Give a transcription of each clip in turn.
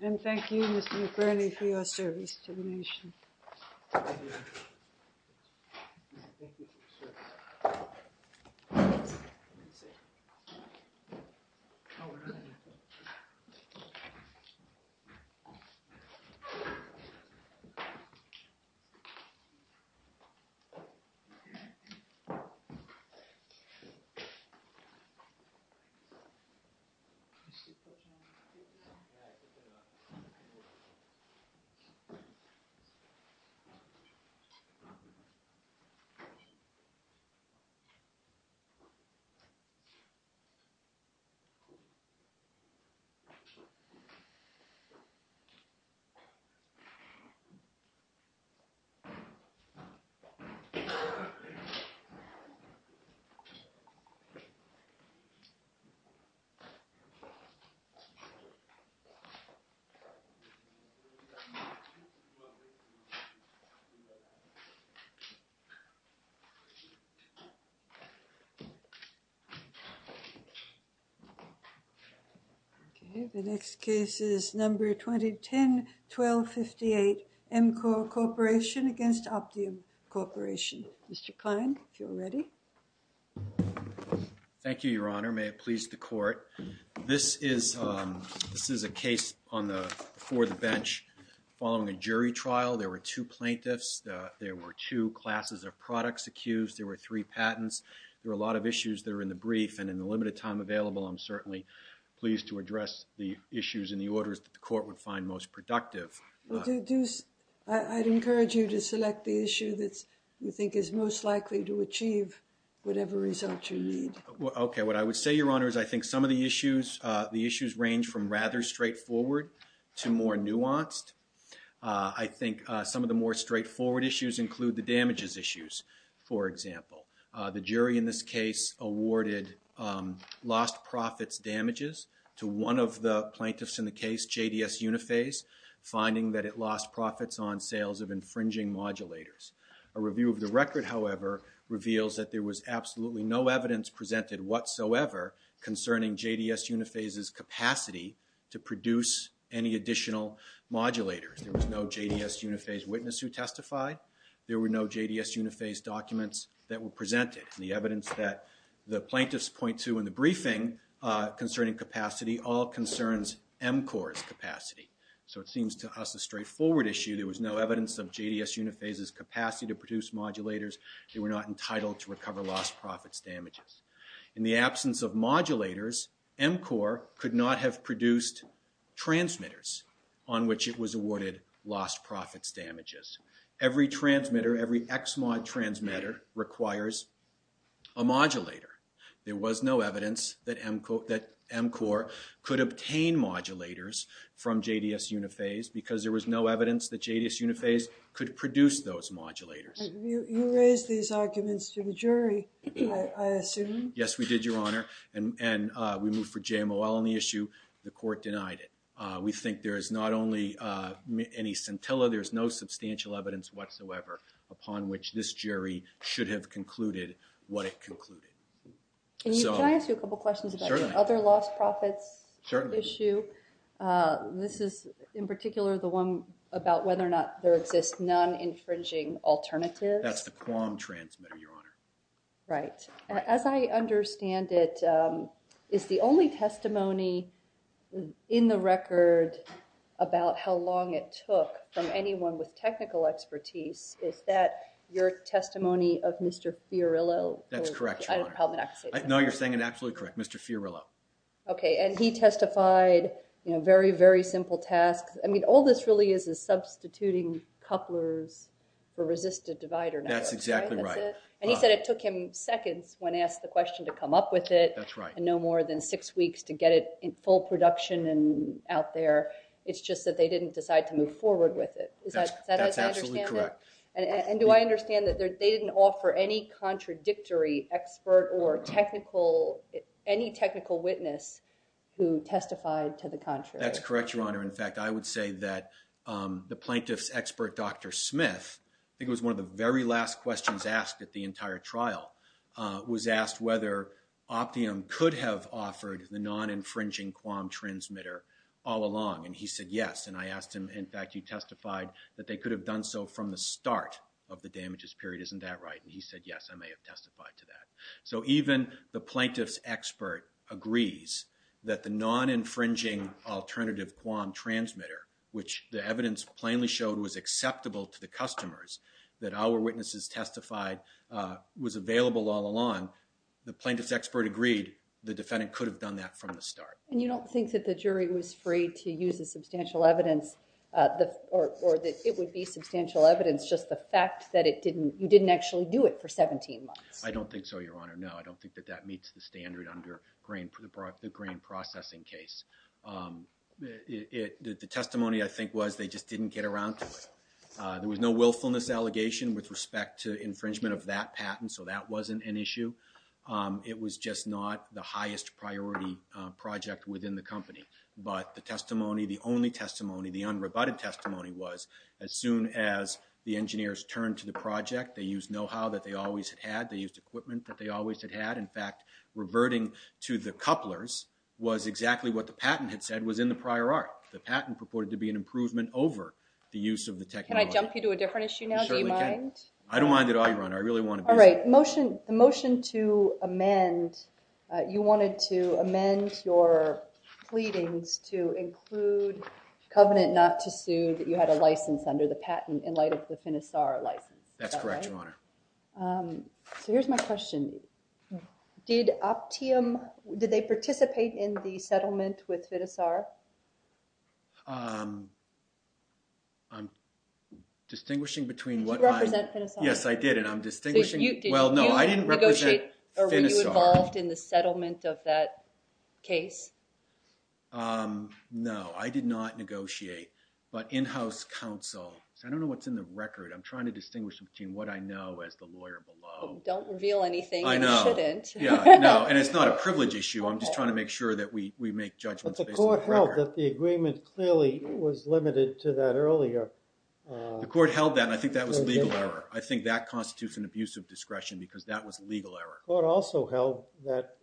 And thank you, Mr. McBurney, for your service to the nation. Thank you very much. Okay, the next case is number 2010-1258, MCORE CORP v. OPTIUM CORP. Mr. Klein, if you're ready. Thank you, Your Honor. May it please the Court. This is a case before the bench following a jury trial. There were two plaintiffs. There were two classes of products accused. There were three patents. There were a lot of issues that were in the brief, and in the limited time available, I'm certainly pleased to address the issues and the orders that the Court would find most productive. I'd encourage you to select the issue that you think is most likely to achieve whatever result you need. Okay, what I would say, Your Honor, is I think some of the issues range from rather straightforward to more nuanced. I think some of the more straightforward issues include the damages issues, for example. The jury in this case awarded lost profits damages to one of the plaintiffs in the case, JDS Uniphase, finding that it lost profits on sales of infringing modulators. A review of the record, however, reveals that there was absolutely no evidence presented whatsoever concerning JDS Uniphase's capacity to produce any additional modulators. There was no JDS Uniphase witness who testified. There were no JDS Uniphase documents that were presented. The evidence that the plaintiffs point to in the briefing concerning capacity all concerns MCOR's capacity. So it seems to us a straightforward issue. There was no evidence of JDS Uniphase's capacity to produce modulators. They were not entitled to recover lost profits damages. In the absence of modulators, MCOR could not have produced transmitters on which it was awarded lost profits damages. Every transmitter, every XMOD transmitter requires a modulator. There was no evidence that MCOR could obtain modulators from JDS Uniphase because there was no evidence that JDS Uniphase could produce those modulators. You raised these arguments to the jury, I assume. Yes, we did, Your Honor. And we moved for JML on the issue. The court denied it. We think there is not only any scintilla, there's no substantial evidence whatsoever upon which this jury should have concluded what it concluded. Can I ask you a couple questions about the other lost profits issue? This is in particular the one about whether or not there exists non-infringing alternatives. That's the QAM transmitter, Your Honor. Right. As I understand it, is the only testimony in the record about how long it took from anyone with technical expertise, is that your testimony of Mr. Fiorillo? That's correct, Your Honor. I don't have the problem to say that. No, you're saying it absolutely correct. Mr. Fiorillo. Okay. And he testified, you know, very, very simple tasks. I mean, all this really is is substituting couplers for resistive divider networks. That's exactly right. And he said it took him seconds when asked the question to come up with it. That's right. And no more than six weeks to get it in full production and out there. It's just that they didn't decide to move forward with it. Is that as I understand it? That's absolutely correct. And do I understand that they didn't offer any contradictory expert or any technical witness who testified to the contrary? That's correct, Your Honor. In fact, I would say that the plaintiff's expert, Dr. Smith, I think it was one of the very last questions asked at the entire trial, was asked whether Optium could have offered the non-infringing QAM transmitter all along. And he said yes. And I asked him, in fact, you testified that they could have done so from the start of the damages period. Isn't that right? And he said, yes, I may have testified to that. So even the plaintiff's expert agrees that the non-infringing alternative QAM transmitter, which the evidence plainly showed was acceptable to the customers that our witnesses testified was available all along, the plaintiff's expert agreed the defendant could have done that from the start. And you don't think that the jury was free to use the substantial evidence or that it would be substantial evidence, just the fact that you didn't actually do it for 17 months? I don't think so, Your Honor. No, I don't think that that meets the standard under the grain processing case. The testimony, I think, was they just didn't get around to it. There was no willfulness allegation with respect to infringement of that patent, so that wasn't an issue. It was just not the highest priority project within the company. But the testimony, the only testimony, the unrebutted testimony was as soon as the engineers turned to the project, they used know-how that they always had had, they used equipment that they always had had. In fact, reverting to the couplers was exactly what the patent had said was in the prior art. The patent purported to be an improvement over the use of the technology. Can I jump you to a different issue now? You certainly can. Do you mind? I don't mind at all, Your Honor. I really want to be… All right. The motion to amend, you wanted to amend your pleadings to include covenant not to sue that you had a license under the patent in light of the Finisar license, is that right? That's correct, Your Honor. So here's my question. Did Optium, did they participate in the settlement with Finisar? I'm distinguishing between what I… Did you represent Finisar? Yes, I did, and I'm distinguishing… Well, no, I didn't represent Finisar. Did you negotiate or were you involved in the settlement of that case? No, I did not negotiate. But in-house counsel, I don't know what's in the record. I'm trying to distinguish between what I know as the lawyer below. Don't reveal anything you shouldn't. I know. No, and it's not a privilege issue. I'm just trying to make sure that we make judgments based on the record. But the court held that the agreement clearly was limited to that earlier. The court held that, and I think that was legal error. I think that constitutes an abuse of discretion because that was legal error. The court also held that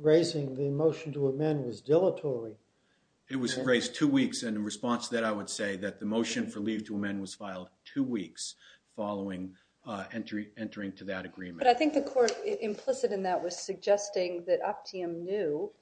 raising the motion to amend was dilatory. It was raised two weeks, and in response to that, I would say that the motion for leave to amend was filed two weeks following entering to that agreement. But I think the court implicit in that was suggesting that Optium knew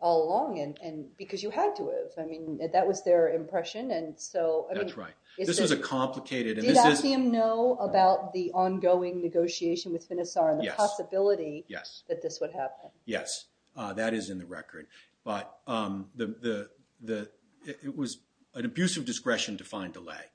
all along because you had to have. I mean, that was their impression, and so… That's right. This is a complicated… Did Optium know about the ongoing negotiation with Finisar and the possibility that this would happen? Yes, that is in the record. But it was an abuse of discretion to find delay.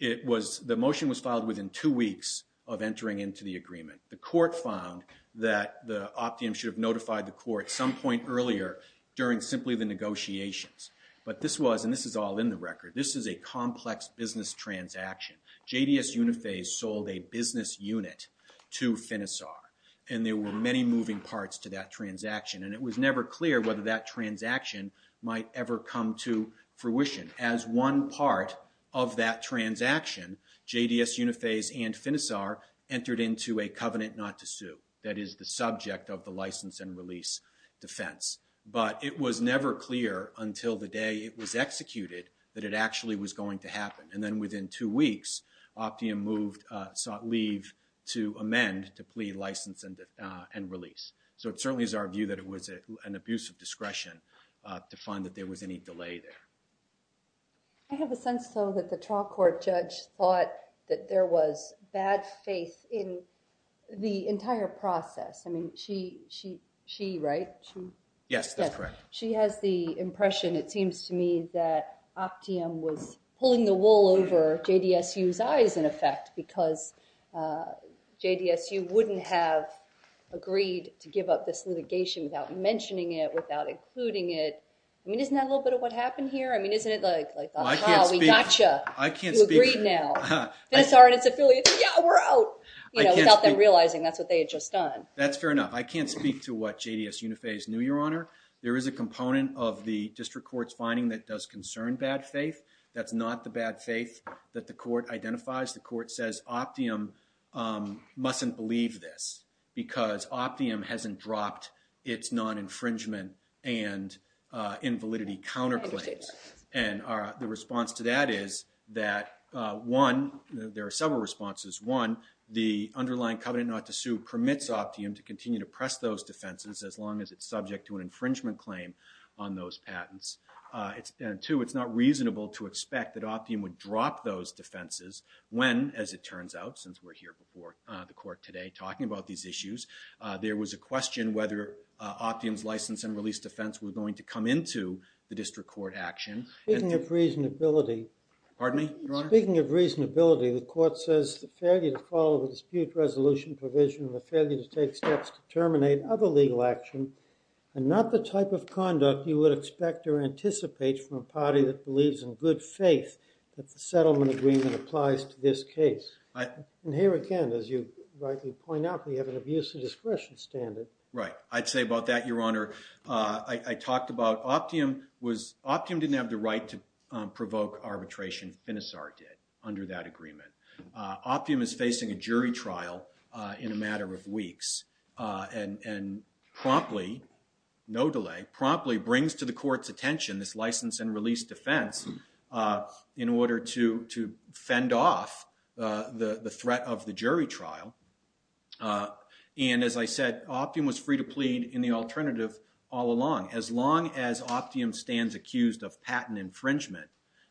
The motion was filed within two weeks of entering into the agreement. The court found that Optium should have notified the court some point earlier during simply the negotiations. But this was, and this is all in the record, this is a complex business transaction. JDS Unifase sold a business unit to Finisar, and there were many moving parts to that transaction. And it was never clear whether that transaction might ever come to fruition. As one part of that transaction, JDS Unifase and Finisar entered into a covenant not to sue. That is the subject of the license and release defense. But it was never clear until the day it was executed that it actually was going to happen. And then within two weeks, Optium sought leave to amend to plea license and release. So it certainly is our view that it was an abuse of discretion to find that there was any delay there. I have a sense, though, that the trial court judge thought that there was bad faith in the entire process. I mean, she, right? Yes, that's correct. She has the impression, it seems to me, that Optium was pulling the wool over JDSU's eyes, in effect, because JDSU wouldn't have agreed to give up this litigation without mentioning it, without including it. I mean, isn't that a little bit of what happened here? I mean, isn't it like, aha, we got you. You agreed now. Finisar and its affiliates, yeah, we're out! You know, without them realizing that's what they had just done. That's fair enough. I can't speak to what JDS Unifase knew, Your Honor. There is a component of the district court's finding that does concern bad faith. That's not the bad faith that the court identifies. The court says Optium mustn't believe this because Optium hasn't dropped its non-infringement and invalidity counterclaims. And the response to that is that, one, there are several responses. One, the underlying covenant not to sue permits Optium to continue to press those defenses as long as it's subject to an infringement claim on those patents. And two, it's not reasonable to expect that Optium would drop those defenses when, as it turns out, since we're here before the court today talking about these issues, there was a question whether Optium's license and release defense were going to come into the district court action. Speaking of reasonability. Pardon me, Your Honor? Speaking of reasonability, the court says the failure to follow the dispute resolution provision, the failure to take steps to terminate other legal action, and not the type of conduct you would expect or anticipate from a party that believes in good faith that the settlement agreement applies to this case. And here again, as you rightly point out, we have an abuse of discretion standard. Right. I'd say about that, Your Honor. I talked about Optium was, Optium didn't have the right to provoke arbitration. Finisar did under that agreement. Optium is facing a jury trial in a matter of weeks. And promptly, no delay, promptly brings to the court's attention this license and release defense in order to fend off the threat of the jury trial. And as I said, Optium was free to plead in the alternative all along. As long as Optium stands accused of patent infringement,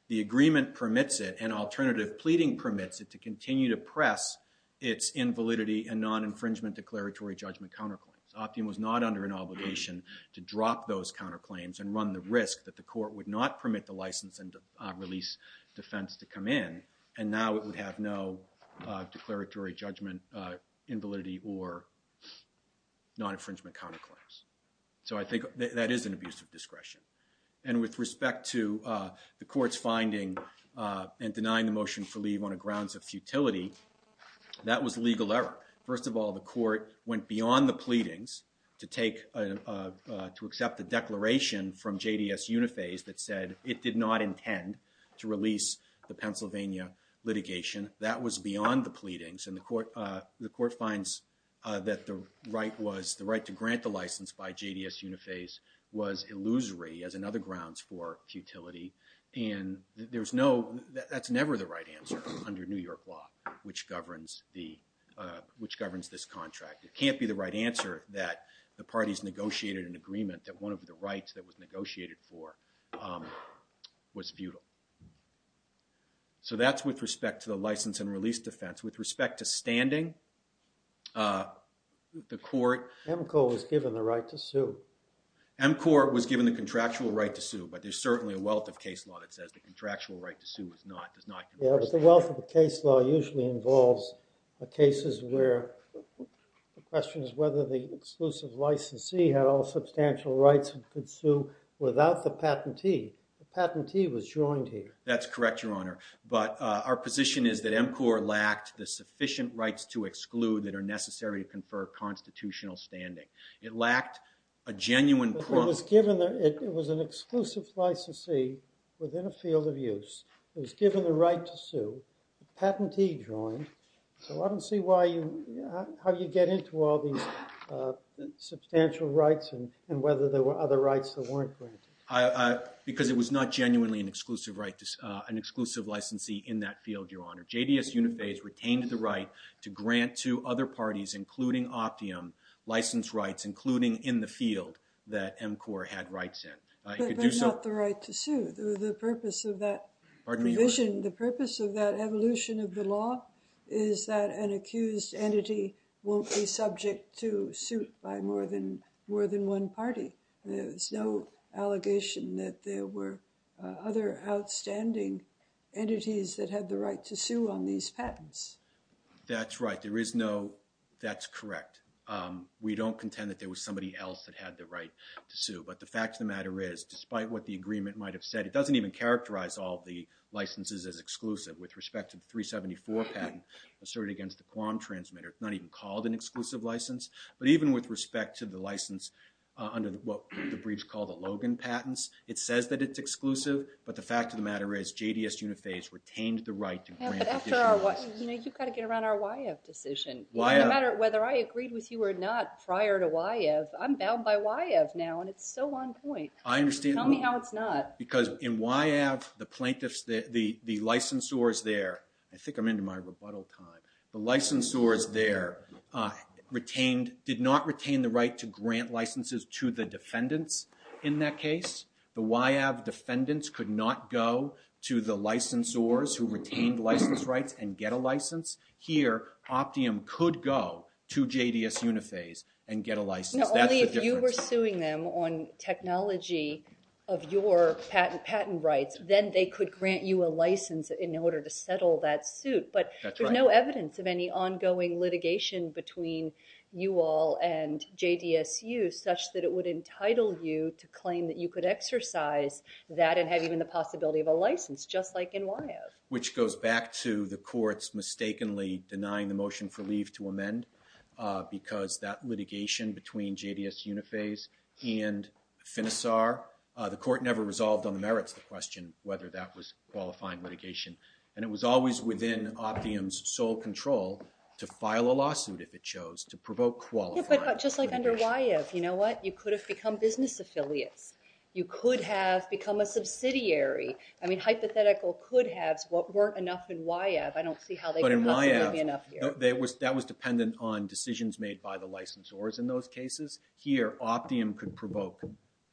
the agreement permits it, and alternative pleading permits it to continue to press its invalidity and non-infringement declaratory judgment counterclaims. Optium was not under an obligation to drop those counterclaims and run the risk that the court would not permit the license and release defense to come in. And now it would have no declaratory judgment invalidity or non-infringement counterclaims. So I think that is an abuse of discretion. And with respect to the court's finding and denying the motion for leave on the grounds of futility, that was legal error. First of all, the court went beyond the pleadings to accept the declaration from JDS Uniphase that said it did not intend to release the Pennsylvania litigation. That was beyond the pleadings. And the court finds that the right to grant the license by JDS Uniphase was illusory as another grounds for futility. And that's never the right answer under New York law, which governs this contract. It can't be the right answer that the parties negotiated an agreement that one of the rights that was negotiated for was futile. So that's with respect to the license and release defense. With respect to standing, the court MCOR was given the right to sue. MCOR was given the contractual right to sue. But there's certainly a wealth of case law that says the contractual right to sue does not comprise that. Yeah, but the wealth of the case law usually involves cases where the question is whether the exclusive licensee had all substantial rights and could sue without the patentee. The patentee was joined here. That's correct, Your Honor. But our position is that MCOR lacked the sufficient rights to exclude that are necessary to confer constitutional standing. It lacked a genuine proof. But it was an exclusive licensee within a field of use. It was given the right to sue. The patentee joined. So I don't see how you get into all these substantial rights and whether there were other rights that weren't granted. Because it was not genuinely an exclusive licensee in that field, Your Honor. JDS Uniphase retained the right to grant to other parties, including Optium, license rights, including in the field that MCOR had rights in. But not the right to sue. The purpose of that provision, the purpose of that evolution of the law, is that an accused entity won't be subject to suit by more than one party. There's no allegation that there were other outstanding entities that had the right to sue on these patents. That's right. There is no that's correct. We don't contend that there was somebody else that had the right to sue. But the fact of the matter is, despite what the agreement might have said, it doesn't even characterize all the licenses as exclusive. With respect to the 374 patent asserted against the QAM transmitter, it's not even called an exclusive license. But even with respect to the license under what the breach called the Logan patents, it says that it's exclusive. But the fact of the matter is, JDS Uniphase retained the right to grant additional license. You've got to get around our YF decision. No matter whether I agreed with you or not prior to YF, I'm bound by YF now. And it's so on point. I understand. Tell me how it's not. Because in YF, the licensors there, I think I'm into my rebuttal time, the licensors there did not retain the right to grant licenses to the defendants in that case. The YF defendants could not go to the licensors who retained license rights and get a license. Here, Optium could go to JDS Uniphase and get a license. That's the difference. If you were suing them on technology of your patent rights, then they could grant you a license in order to settle that suit. But there's no evidence of any ongoing litigation between you all and JDSU such that it would entitle you to claim that you could exercise that and have even the possibility of a license, just like in YF. the motion for leave to amend. Because that litigation between JDS Uniphase and Finisar, the court never resolved on the merits of the question whether that was qualifying litigation. And it was always within Optium's sole control to file a lawsuit, if it chose, to provoke qualifying. But just like under YF, you know what? You could have become business affiliates. You could have become a subsidiary. I mean, hypothetical could haves weren't enough in YF. I don't see how they could possibly be enough here. That was dependent on decisions made by the licensors in those cases. Here, Optium could provoke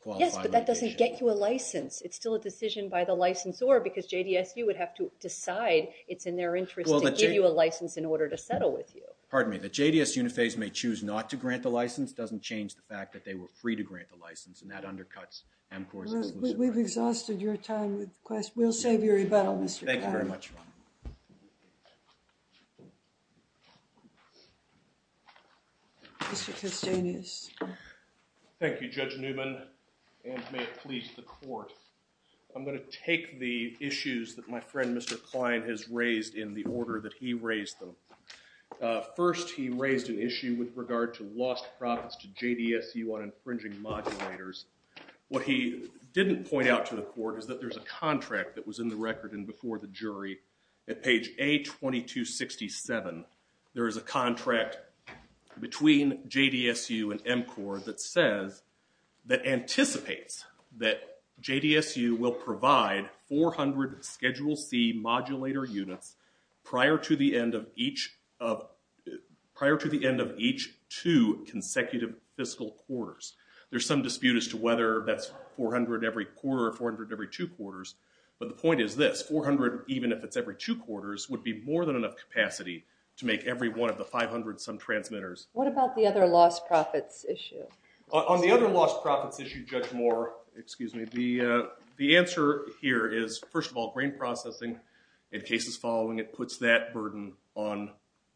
qualifying litigation. Yes, but that doesn't get you a license. It's still a decision by the licensor, because JDSU would have to decide it's in their interest to give you a license in order to settle with you. Pardon me. The JDS Uniphase may choose not to grant the license. Doesn't change the fact that they were free to grant the license. And that undercuts AMCOR's exclusive rights. We've exhausted your time with questions. We'll save your rebuttal, Mr. Kahn. Thank you very much. Mr. Castaneous. Thank you, Judge Newman, and may it please the court. I'm going to take the issues that my friend, Mr. Klein, has raised in the order that he raised them. First, he raised an issue with regard to lost profits to JDSU on infringing modulators. What he didn't point out to the court is that there's a contract that was in the record and before the jury at page A2267. There is a contract between JDSU and AMCOR that says that anticipates that JDSU will provide 400 Schedule C modulator units prior to the end of each two consecutive fiscal quarters. There's some dispute as to whether that's 400 every quarter or 400 every two quarters. But the point is this. 400, even if it's every two quarters, would be more than enough capacity to make every one of the 500 some transmitters. What about the other lost profits issue? On the other lost profits issue, Judge Moore, excuse me, the answer here is, first of all, grain processing in cases following it puts that burden on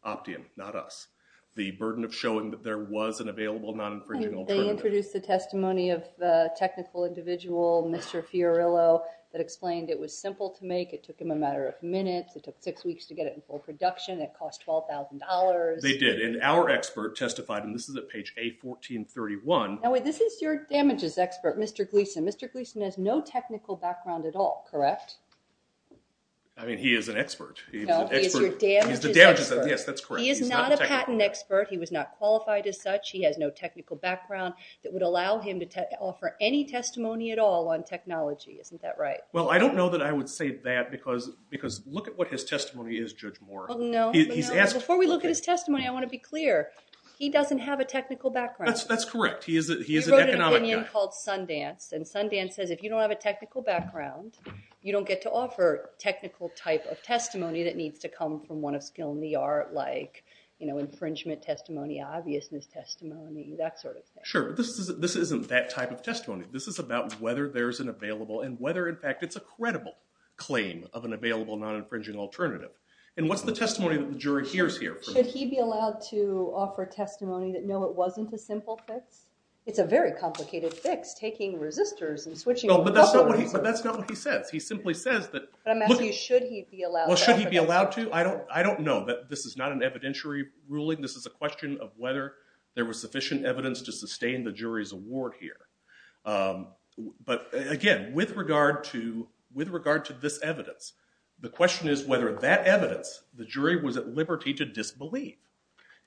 Optium, not us. The burden of showing that there was an available non-infringing alternative. They introduced the testimony of the technical individual, Mr. Fiorillo, that explained it was simple to make. It took him a matter of minutes. It took six weeks to get it in full production. It cost $12,000. They did. And our expert testified, and this is at page A1431. Now, wait. This is your damages expert, Mr. Gleason. Mr. Gleason has no technical background at all, correct? I mean, he is an expert. No, he is your damages expert. He's the damages expert. Yes, that's correct. He is not a patent expert. He was not qualified as such. He has no technical background that would allow him to offer any testimony at all on technology. Isn't that right? Well, I don't know that I would say that, because look at what his testimony is, Judge Moore. Well, no. Before we look at his testimony, I want to be clear. He doesn't have a technical background. That's correct. He is an economic guy. He wrote an opinion called Sundance. And Sundance says, if you don't have a technical background, you don't get to offer technical type of testimony that needs to come from one of skill in the art, like infringement testimony, obviousness testimony, that sort of thing. Sure, but this isn't that type of testimony. This is about whether there is an available and whether, in fact, it's a credible claim of an available non-infringing alternative. And what's the testimony that the jury hears here? Should he be allowed to offer testimony that, no, it wasn't a simple fix? It's a very complicated fix, taking resistors and switching a couple resistors. But that's not what he says. He simply says that, look. But I'm asking you, should he be allowed that? Well, should he be allowed to? I don't know. This is not an evidentiary ruling. This is a question of whether there was sufficient evidence to sustain the jury's award here. But again, with regard to this evidence, the question is whether that evidence, the jury was at liberty to disbelieve.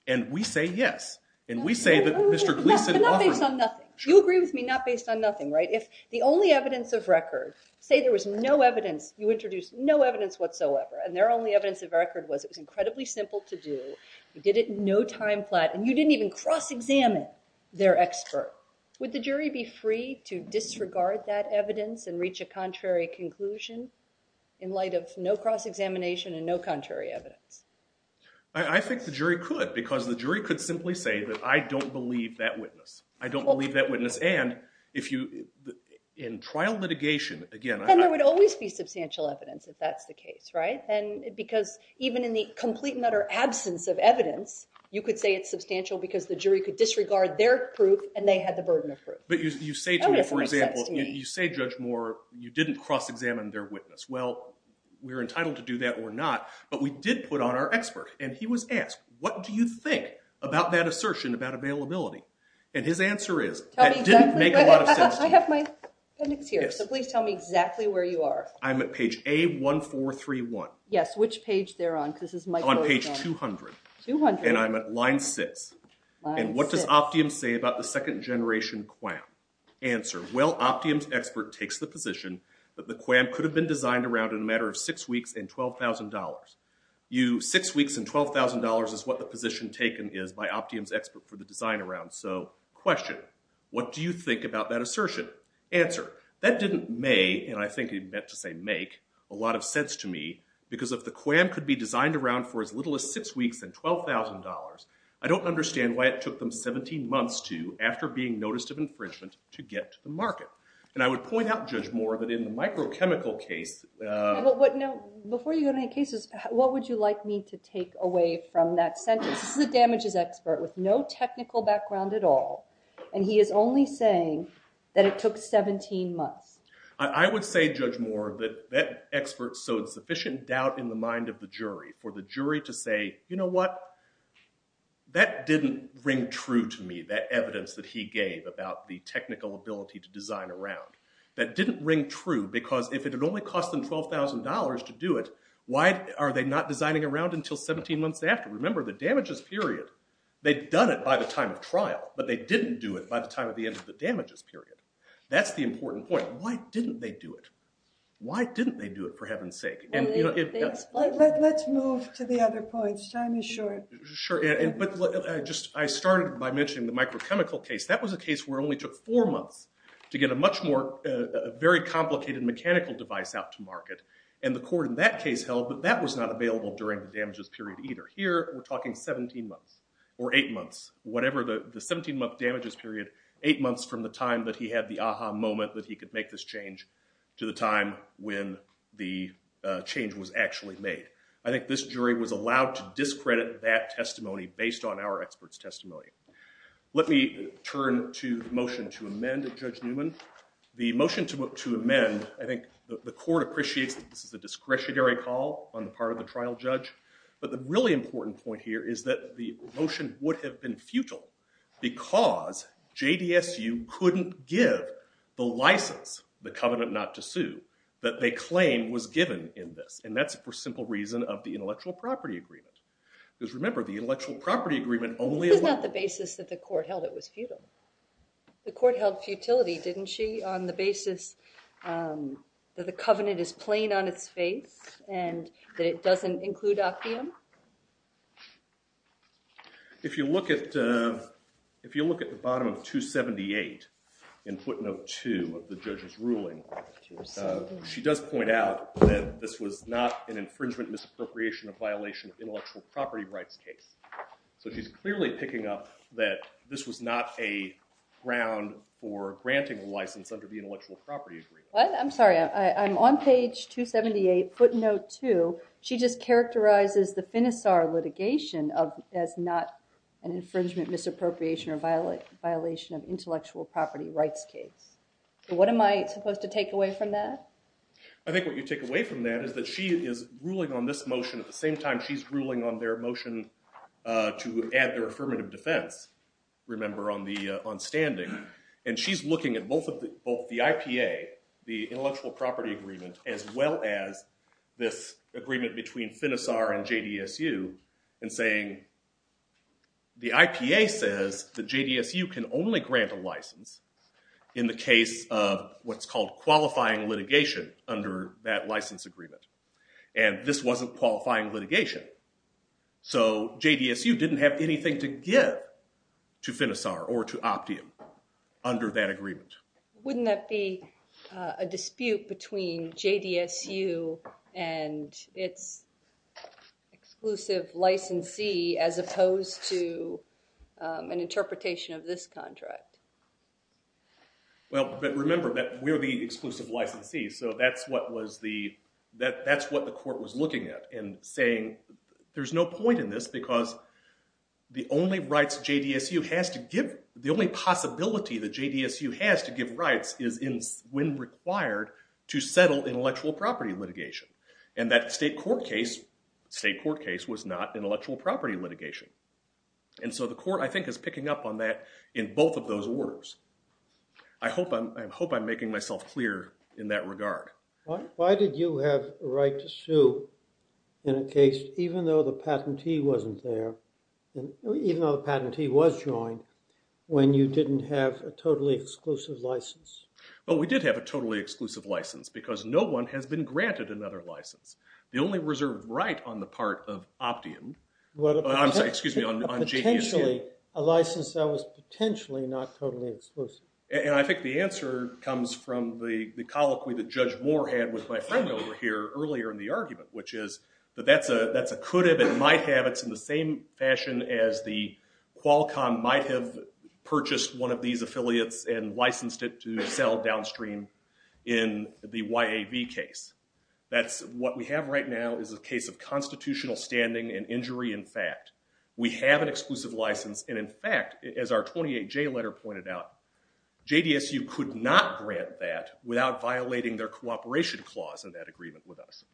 And we say yes. And we say that Mr. Gleason offered. But not based on nothing. You agree with me not based on nothing, right? If the only evidence of record, say there was no evidence, you introduced no evidence whatsoever, and their only evidence of record was it was incredibly simple to do, you did it in no time flat, and you didn't even cross-examine their expert, would the jury be free to disregard that evidence and reach a contrary conclusion in light of no cross-examination and no contrary evidence? I think the jury could, because the jury could simply say that I don't believe that witness. I don't believe that witness. And in trial litigation, again, I'm not going to. And there would always be substantial evidence if that's the case, right? And because even in the complete and utter absence of evidence, you could say it's substantial because the jury could disregard their proof, and they had the burden of proof. But you say to me, for example, you say, Judge Moore, you didn't cross-examine their witness. Well, we're entitled to do that or not. But we did put on our expert. And he was asked, what do you think about that assertion about availability? And his answer is, that didn't make a lot of sense to me. I have my appendix here. So please tell me exactly where you are. I'm at page A1431. Yes. Which page they're on? On page 200. 200. And I'm at line 6. Line 6. And what does Optium say about the second generation QAM? Answer. Well, Optium's expert takes the position that the QAM could have been designed around in a matter of six weeks and $12,000. You, six weeks and $12,000 is what the position taken is by Optium's expert for the design around. So question. What do you think about that assertion? Answer. That didn't may, and I think he meant to say make, a lot of sense to me. Because if the QAM could be designed around for as little as six weeks and $12,000, I don't understand why it took them 17 months to, after being noticed of infringement, to get to the market. And I would point out, Judge Moore, that in the microchemical case. No. Before you go to any cases, what would you like me to take away from that sentence? This is a damages expert with no technical background at all. And he is only saying that it took 17 months. I would say, Judge Moore, that that expert sowed sufficient doubt in the mind of the jury. For the jury to say, you know what? That didn't ring true to me, that evidence that he gave about the technical ability to design around. That didn't ring true, because if it had only cost them $12,000 to do it, why are they not designing around until 17 months after? Remember, the damages period, they'd done it by the time of trial. But they didn't do it by the time of the end of the damages period. That's the important point. Why didn't they do it? Why didn't they do it, for heaven's sake? Let's move to the other points. Time is short. Sure. But I started by mentioning the microchemical case. That was a case where it only took four months to get a much more very complicated mechanical device out to market. And the court in that case held that that was not available during the damages period either. Here, we're talking 17 months or eight months. Whatever the 17-month damages period, eight months from the time that he had the aha moment that he could make this change to the time when the change was actually made. I think this jury was allowed to discredit that testimony based on our expert's testimony. Let me turn to the motion to amend, Judge Newman. The motion to amend, I think the court appreciates that this is a discretionary call on the part of the trial judge. But the really important point here is that the motion would have been futile because JDSU couldn't give the license, the covenant not to sue, that they claim was given in this. And that's for simple reason of the intellectual property agreement. Because remember, the intellectual property agreement only allowed- This is not the basis that the court held it was futile. The court held futility, didn't she, on the basis that the covenant is plain on its face and that it doesn't include opium? If you look at the bottom of 278 in footnote 2 of the judge's ruling, she does point out that this was not an infringement misappropriation of violation of intellectual property rights case. So she's clearly picking up that this was not a ground for granting a license under the intellectual property agreement. I'm sorry. I'm on page 278, footnote 2. She just characterizes the Finisar litigation as not an infringement misappropriation or violation of intellectual property rights case. What am I supposed to take away from that? I think what you take away from that is that she is ruling on this motion at the same time she's ruling on their motion to add their affirmative defense, remember, on standing. And she's looking at both the IPA, the intellectual property agreement, as well as this agreement between Finisar and JDSU and saying the IPA says that JDSU can only grant a license in the case of what's called qualifying litigation under that license agreement. And this wasn't qualifying litigation. So JDSU didn't have anything to give to Finisar or to opium under that agreement. Wouldn't that be a dispute between JDSU and its exclusive licensee as opposed to an interpretation of this contract? Well, but remember that we're the exclusive licensee. So that's what the court was looking at and saying, there's no point in this because the only rights JDSU has to give, the only possibility that JDSU has to give rights is when required to settle intellectual property litigation. And that state court case was not intellectual property litigation. And so the court, I think, is picking up on that in both of those orders. I hope I'm making myself clear in that regard. Why did you have a right to sue in a case even though the patentee wasn't there, even though the patentee was joined, when you didn't have a totally exclusive license? Well, we did have a totally exclusive license because no one has been granted another license. The only reserve right on the part of opium, excuse me, on JDSU. Potentially, a license that was potentially not totally exclusive. And I think the answer comes from the colloquy that Judge Moore had with my friend over here earlier in the argument, which is that that's a could've and might have. It's in the same fashion as the Qualcomm might have purchased one of these affiliates and licensed it to sell downstream in the YAV case. That's what we have right now is a case of constitutional standing and injury in fact. We have an exclusive license. And in fact, as our 28J letter pointed out, JDSU could not grant that without violating their cooperation clause in that agreement with us.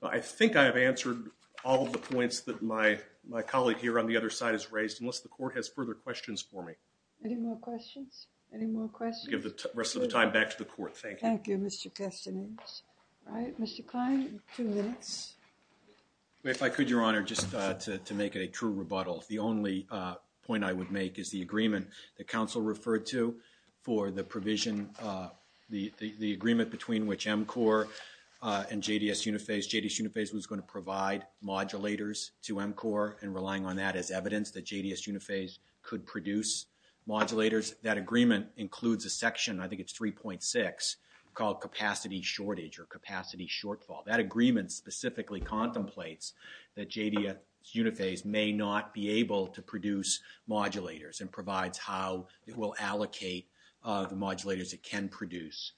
Well, I think I have answered all of the points that my colleague here on the other side has raised unless the court has further questions for me. Any more questions? Any more questions? I'll give the rest of the time back to the court. Thank you. Thank you, Mr. Castanets. All right, Mr. Kline, two minutes. If I could, Your Honor, just to make it a true rebuttal. The only point I would make is the agreement that counsel referred to for the provision, the agreement between which MCOR and JDS Unifase, JDS Unifase was going to provide modulators to MCOR and relying on that as evidence that JDS Unifase could produce modulators. That agreement includes a section, I think it's 3.6, called capacity shortage or capacity shortfall. That agreement specifically contemplates that JDS Unifase may not be able to produce modulators and provides how it will allocate the modulators it can produce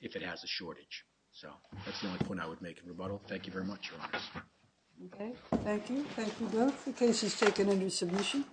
if it has a shortage. So that's the only point I would make in rebuttal. Thank you very much, Your Honor. Thank you. Thank you both. The case is taken under submission.